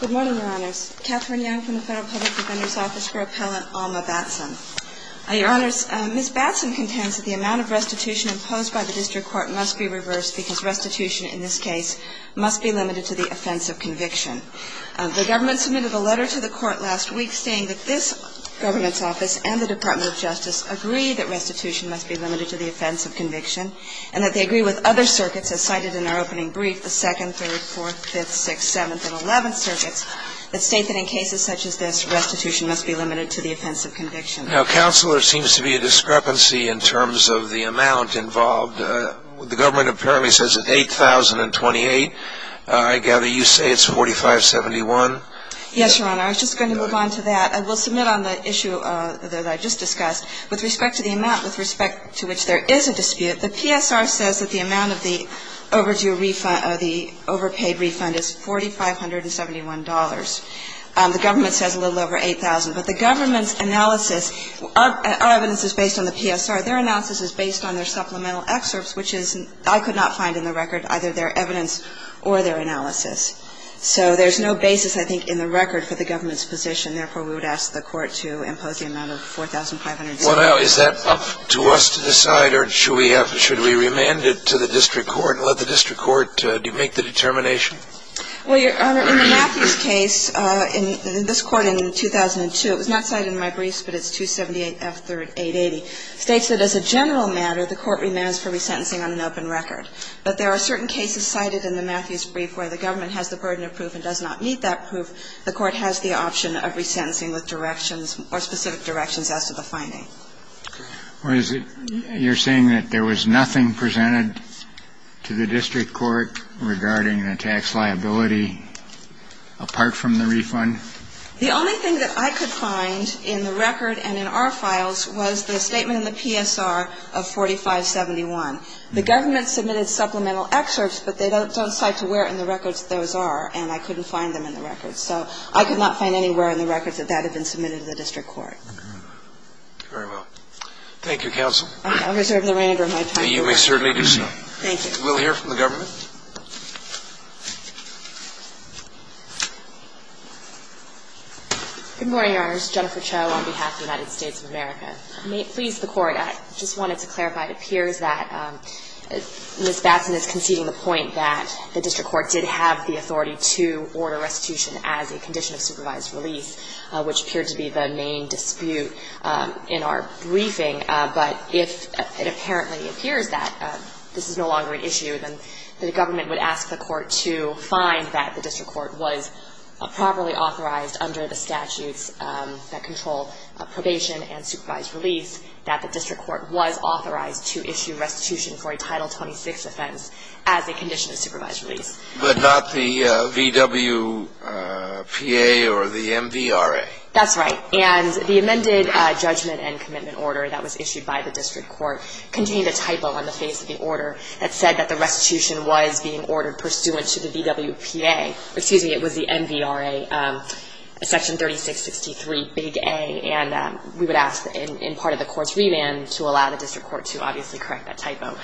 Good morning, Your Honors. Katherine Young from the Federal Public Defender's Office for Appellant Alma Batson. Your Honors, Ms. Batson contends that the amount of restitution imposed by the district court must be reversed because restitution in this case must be limited to the offense of conviction. The government submitted a letter to the court last week saying that this government's office and the Department of Justice agree that restitution must be limited to the offense of conviction and that they agree with other circuits as cited in our opening brief, the 2nd, 3rd, 4th, 5th, 6th, 7th, and 11th circuits that state that in cases such as this, restitution must be limited to the offense of conviction. Now, Counselor, there seems to be a discrepancy in terms of the amount involved. The government apparently says it's $8,028. I gather you say it's $4571. Yes, Your Honor. I was just going to move on to that. I will submit on the issue that I just discussed. With respect to the amount with respect to which there is a dispute, the PSR says that the amount of the overdue refund or the overpaid refund is $4,571. The government says a little over $8,000. But the government's analysis, our evidence is based on the PSR. Their analysis is based on their supplemental excerpts, which I could not find in the record, either their evidence or their analysis. So there's no basis, I think, in the record for the government's position. Therefore, we would ask the Court to impose the amount of $4,571. Well, now, is that up to us to decide, or should we remand it to the district court and let the district court make the determination? Well, Your Honor, in the Matthews case, in this Court in 2002, it was not cited in my briefs, but it's 278F3880, states that as a general matter, the Court remands for resentencing on an open record. But there are certain cases cited in the Matthews brief where the government has the burden of proof and does not need that proof. The Court has the option of resentencing with directions or specific directions as to the finding. Well, is it you're saying that there was nothing presented to the district court regarding the tax liability apart from the refund? The only thing that I could find in the record and in our files was the statement in the PSR of $4,571. The government submitted supplemental excerpts, but they don't cite to where in the records those are, and I couldn't find them in the records. So I could not find anywhere in the records that that had been submitted to the district court. Very well. Thank you, counsel. I reserve the remainder of my time. You may certainly do so. Thank you. We'll hear from the government. Good morning, Your Honors. Jennifer Cho on behalf of the United States of America. May it please the Court, I just wanted to clarify. It appears that Ms. Batson is conceding the point that the district court did have the authority to order restitution as a condition of supervised release, which appeared to be the main dispute in our briefing. But if it apparently appears that this is no longer an issue, then the government would ask the court to find that the district court was properly authorized under the statutes that control probation and supervised release that the district court was authorized to issue restitution for a Title 26 offense as a condition of supervised release. But not the VWPA or the MVRA? That's right. And the amended judgment and commitment order that was issued by the district court contained a typo on the face of the order that said that the restitution was being ordered pursuant to the VWPA. Excuse me, it was the MVRA, Section 3663, Big A, and we would ask in part of the court's remand to allow the district court to obviously correct that typo.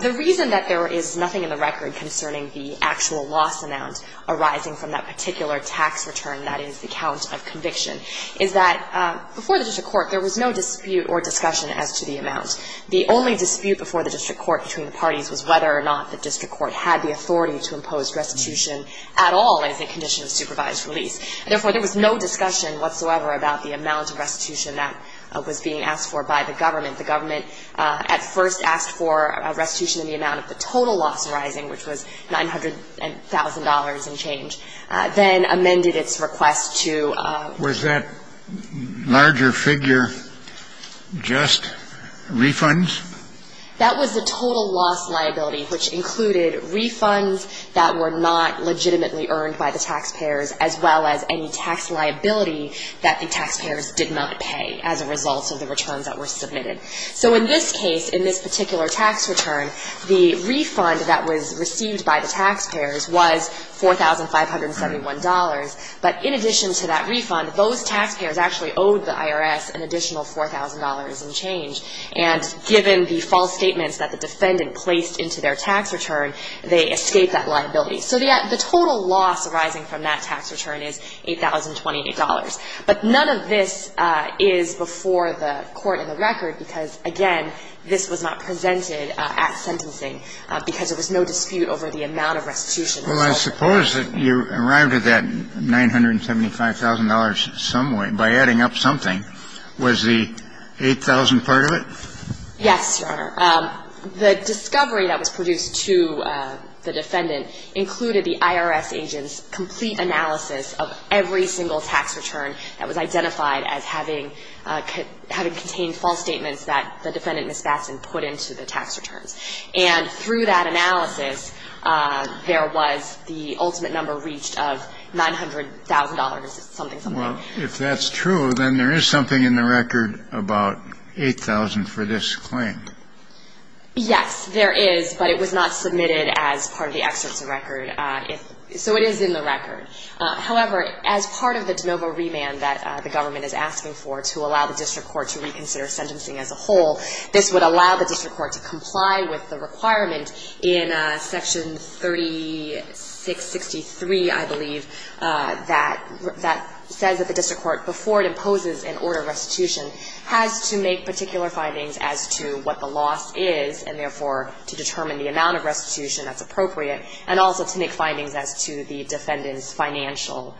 The reason that there is nothing in the record concerning the actual loss amount arising from that particular tax return, that is the count of conviction, is that before the district court there was no dispute or discussion as to the amount. The only dispute before the district court between the parties was whether or not the district court had the authority to impose restitution at all as a condition of supervised release. Therefore, there was no discussion whatsoever about the amount of restitution that was being asked for by the government. The government at first asked for a restitution in the amount of the total loss arising, which was $900,000 and change, then amended its request to ---- Was that larger figure just refunds? That was the total loss liability, which included refunds that were not legitimately earned by the taxpayers, as well as any tax liability that the taxpayers did not pay as a result of the returns that were submitted. So in this case, in this particular tax return, the refund that was received by the taxpayers was $4,571. But in addition to that refund, those taxpayers actually owed the IRS an additional $4,000 and change. And given the false statements that the defendant placed into their tax return, they escaped that liability. So the total loss arising from that tax return is $8,028. But none of this is before the Court in the record, because, again, this was not presented at sentencing, because there was no dispute over the amount of restitution. Well, I suppose that you arrived at that $975,000 some way by adding up something. Was the 8,000 part of it? Yes, Your Honor. The discovery that was produced to the defendant included the IRS agent's complete analysis of every single tax return that was identified as having contained false statements that the defendant, Ms. Batson, put into the tax returns. And through that analysis, there was the ultimate number reached of $900,000-something. Well, if that's true, then there is something in the record about 8,000 for this claim. Yes, there is. But it was not submitted as part of the excerpts of record. So it is in the record. However, as part of the de novo remand that the government is asking for to allow the district court to reconsider sentencing as a whole, this would allow the district court to comply with the requirement in Section 3663, I believe, that says that the district court, before it imposes an order of restitution, has to make particular findings as to what the loss is and, therefore, to determine the amount of restitution that's appropriate and also to make findings as to the defendant's financial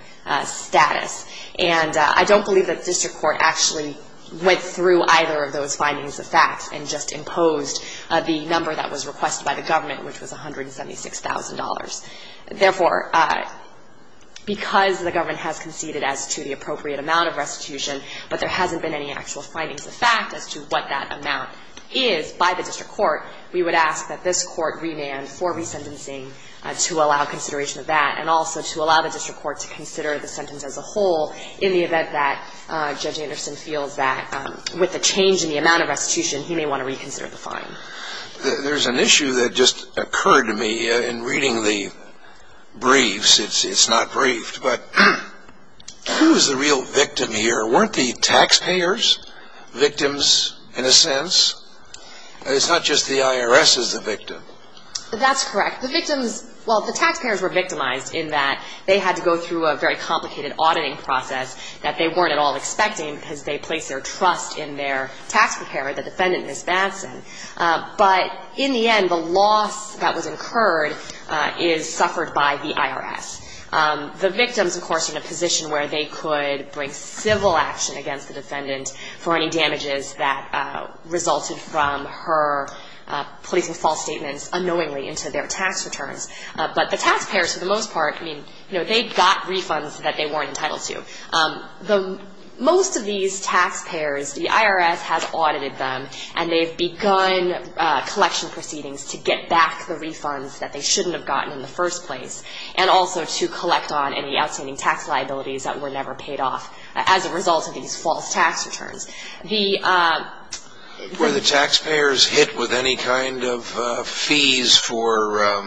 status. And I don't believe that the district court actually went through either of those findings of fact and just imposed the number that was requested by the government, which was $176,000. Therefore, because the government has conceded as to the appropriate amount of restitution but there hasn't been any actual findings of fact as to what that amount is by the district court, we would ask that this court remand for resentencing to allow consideration of that and also to allow the district court to consider the sentence as a whole in the event that Judge Anderson feels that with the change in the amount of restitution, he may want to reconsider the fine. There's an issue that just occurred to me in reading the briefs. It's not briefed. But who is the real victim here? Weren't the taxpayers victims in a sense? It's not just the IRS is the victim. That's correct. The victims, well, the taxpayers were victimized in that they had to go through a very complicated auditing process that they weren't at all expecting because they placed their trust in their tax preparer, the defendant, Ms. Batson. But in the end, the loss that was incurred is suffered by the IRS. The victims, of course, are in a position where they could bring civil action against the defendant for any damages that resulted from her placing false statements unknowingly into their tax returns. But the taxpayers, for the most part, I mean, you know, they got refunds that they weren't entitled to. Most of these taxpayers, the IRS has audited them and they've begun collection proceedings to get back the refunds that they shouldn't have gotten in the first place and also to collect on any outstanding tax liabilities that were never paid off as a result of these false tax returns. Were the taxpayers hit with any kind of fees for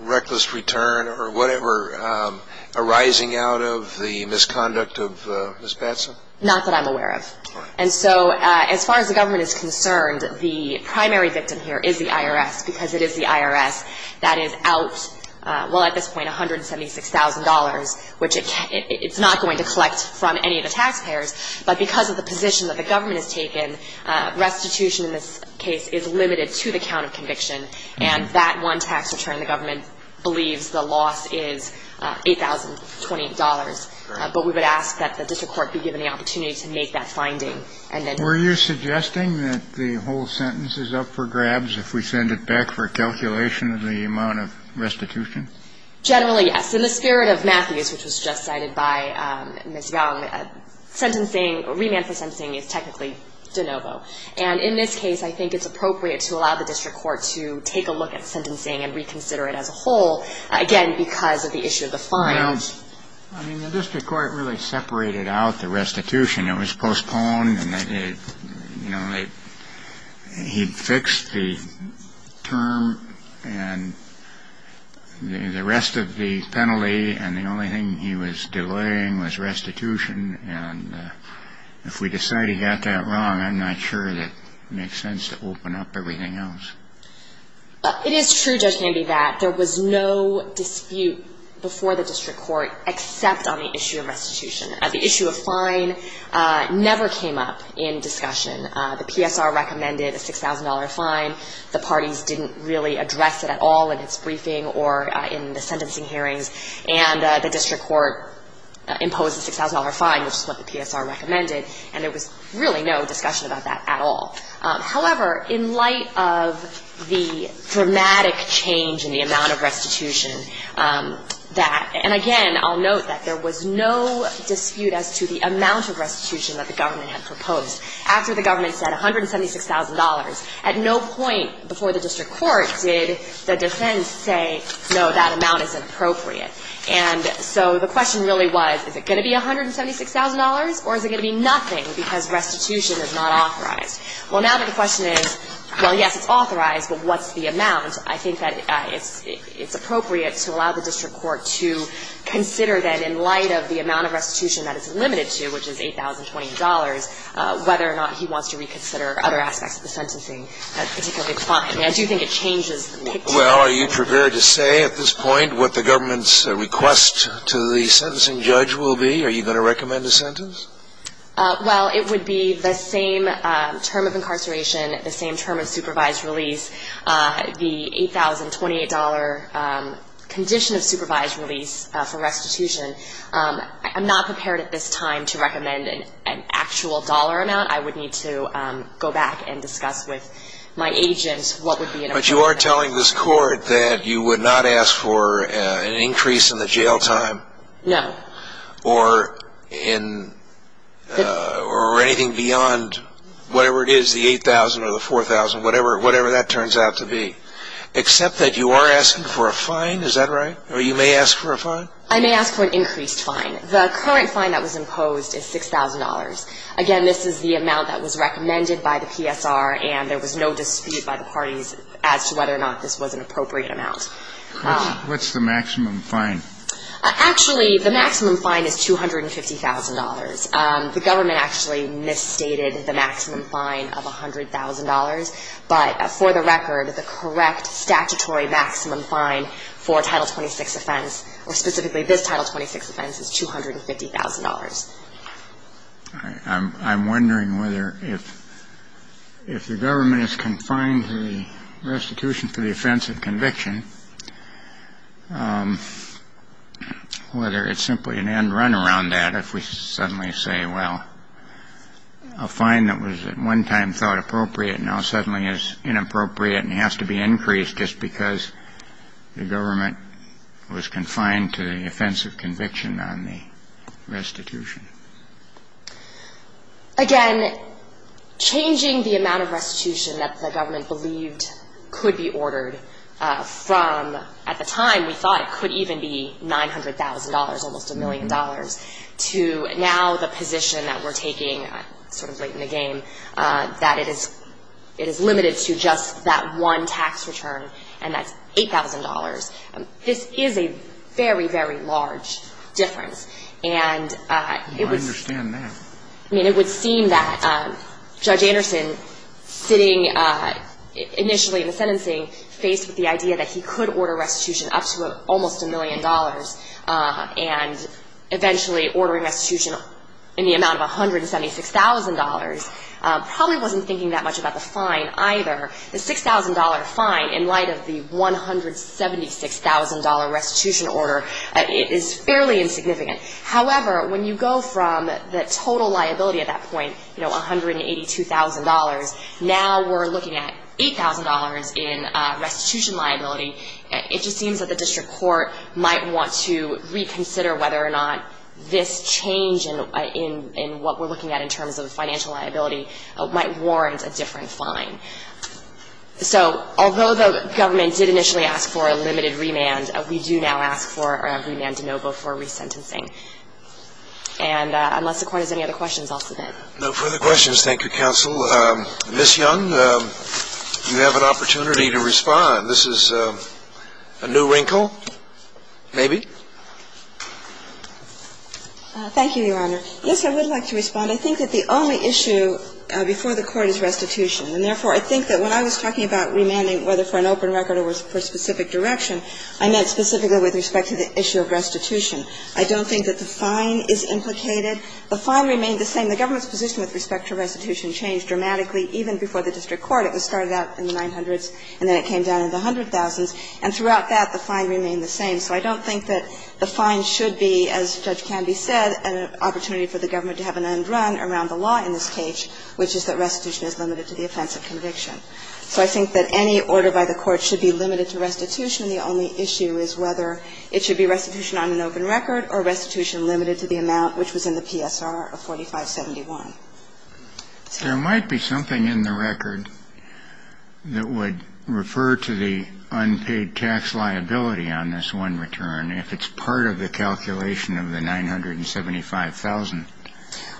reckless return or whatever arising out of the misconduct of Ms. Batson? Not that I'm aware of. And so as far as the government is concerned, the primary victim here is the IRS because it is the IRS that is out, well, at this point, $176,000, which it's not going to collect from any of the taxpayers. But because of the position that the government has taken, restitution in this case is limited to the count of conviction. And that one tax return the government believes the loss is $8,028. But we would ask that the district court be given the opportunity to make that finding. Were you suggesting that the whole sentence is up for grabs if we send it back for calculation of the amount of restitution? Generally, yes. In the spirit of Matthews, which was just cited by Ms. Young, sentencing, remand for sentencing is technically de novo. And in this case, I think it's appropriate to allow the district court to take a look at sentencing and reconsider it as a whole, again, because of the issue of the fines. Well, I mean, the district court really separated out the restitution. I mean, it was postponed. And, you know, he fixed the term. And the rest of the penalty and the only thing he was delaying was restitution. And if we decide he got that wrong, I'm not sure that it makes sense to open up everything else. It is true, Judge Candy, that there was no dispute before the district court except on the issue of restitution. The issue of fine never came up in discussion. The PSR recommended a $6,000 fine. The parties didn't really address it at all in its briefing or in the sentencing hearings. And the district court imposed a $6,000 fine, which is what the PSR recommended. And there was really no discussion about that at all. However, in light of the dramatic change in the amount of restitution that – and, again, I'll note that there was no dispute as to the amount of restitution that the government had proposed. After the government said $176,000, at no point before the district court did the defense say, no, that amount is inappropriate. And so the question really was, is it going to be $176,000 or is it going to be nothing because restitution is not authorized? Well, now the question is, well, yes, it's authorized, but what's the amount? I think that it's appropriate to allow the district court to consider that in light of the amount of restitution that it's limited to, which is $8,020, whether or not he wants to reconsider other aspects of the sentencing, particularly the fine. I do think it changes the picture. Well, are you prepared to say at this point what the government's request to the sentencing judge will be? Are you going to recommend a sentence? Well, it would be the same term of incarceration, the same term of supervised release, the $8,028 condition of supervised release for restitution. I'm not prepared at this time to recommend an actual dollar amount. I would need to go back and discuss with my agent what would be an appropriate amount. But you are telling this court that you would not ask for an increase in the jail time? No. Or anything beyond whatever it is, the $8,000 or the $4,000, whatever that turns out to be. Except that you are asking for a fine, is that right? Or you may ask for a fine? I may ask for an increased fine. The current fine that was imposed is $6,000. Again, this is the amount that was recommended by the PSR, and there was no dispute by the parties as to whether or not this was an appropriate amount. What's the maximum fine? Actually, the maximum fine is $250,000. The government actually misstated the maximum fine of $100,000. But for the record, the correct statutory maximum fine for a Title 26 offense, or specifically this Title 26 offense, is $250,000. All right. I'm wondering whether if the government has confined the restitution for the offense of conviction, whether it's simply an end run around that if we suddenly say, well, a fine that was at one time thought appropriate now suddenly is inappropriate and has to be increased just because the government was confined to the offense of conviction on the restitution. Again, changing the amount of restitution that the government believed could be ordered from at the time we thought it could even be $900,000, almost a million dollars, to now the position that we're taking sort of late in the game, that it is limited to just that one tax return, and that's $8,000. This is a very, very large difference. I understand that. I mean, it would seem that Judge Anderson, sitting initially in the sentencing, faced with the idea that he could order restitution up to almost a million dollars and eventually ordering restitution in the amount of $176,000, probably wasn't thinking that much about the fine either. The $6,000 fine in light of the $176,000 restitution order is fairly insignificant. However, when you go from the total liability at that point, you know, $182,000, now we're looking at $8,000 in restitution liability. It just seems that the district court might want to reconsider whether or not this change in what we're looking at in terms of the financial liability might warrant a different fine. So although the government did initially ask for a limited remand, we do now ask for a remand de novo for resentencing. And unless the Court has any other questions, I'll submit. No further questions. Thank you, counsel. Ms. Young, you have an opportunity to respond. This is a new wrinkle, maybe. Thank you, Your Honor. Yes, I would like to respond. I think that the only issue before the Court is restitution, and therefore I think that when I was talking about remanding, whether for an open record or for specific direction, I meant specifically with respect to the issue of restitution. I don't think that the fine is implicated. The fine remained the same. The government's position with respect to restitution changed dramatically even before the district court. It was started out in the 900s and then it came down in the 100,000s. And throughout that, the fine remained the same. So I don't think that the fine should be, as Judge Canby said, an opportunity for the government to have an end run around the law in this case, which is that restitution is limited to the offense of conviction. So I think that any order by the Court should be limited to restitution. The only issue is whether it should be restitution on an open record or restitution limited to the amount which was in the PSR of 4571. There might be something in the record that would refer to the unpaid tax liability on this one return if it's part of the calculation of the 975,000.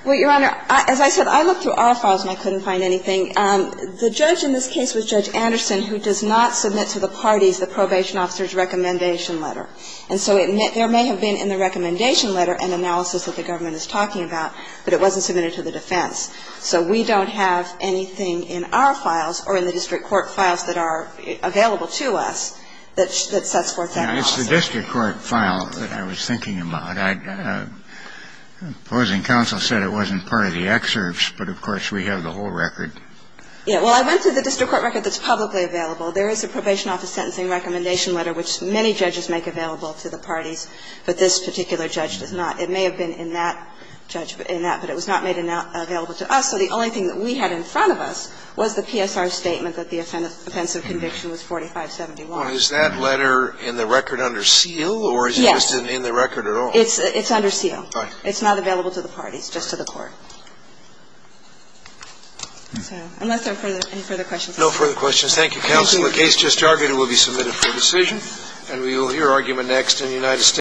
Well, Your Honor, as I said, I looked through our files and I couldn't find anything. The judge in this case was Judge Anderson, who does not submit to the parties the probation officer's recommendation letter. And so there may have been in the recommendation letter an analysis that the government is talking about, but it wasn't submitted to the defense. So we don't have anything in our files or in the district court files that are available to us that sets forth that analysis. It's the district court file that I was thinking about. The opposing counsel said it wasn't part of the excerpts, but of course we have the whole record. Yeah. Well, I went to the district court record that's publicly available. There is a probation office sentencing recommendation letter which many judges make available to the parties, but this particular judge does not. It may have been in that judge, in that, but it was not made available to us. So the only thing that we had in front of us was the PSR statement that the offense of conviction was 4570 long. Well, is that letter in the record under seal or is it just in the record at all? Yes. It's under seal. Right. It's not available to the parties, just to the court. So unless there are any further questions. No further questions. Thank you, counsel. The case just argued will be submitted for decision. And we will hear argument next in the United States.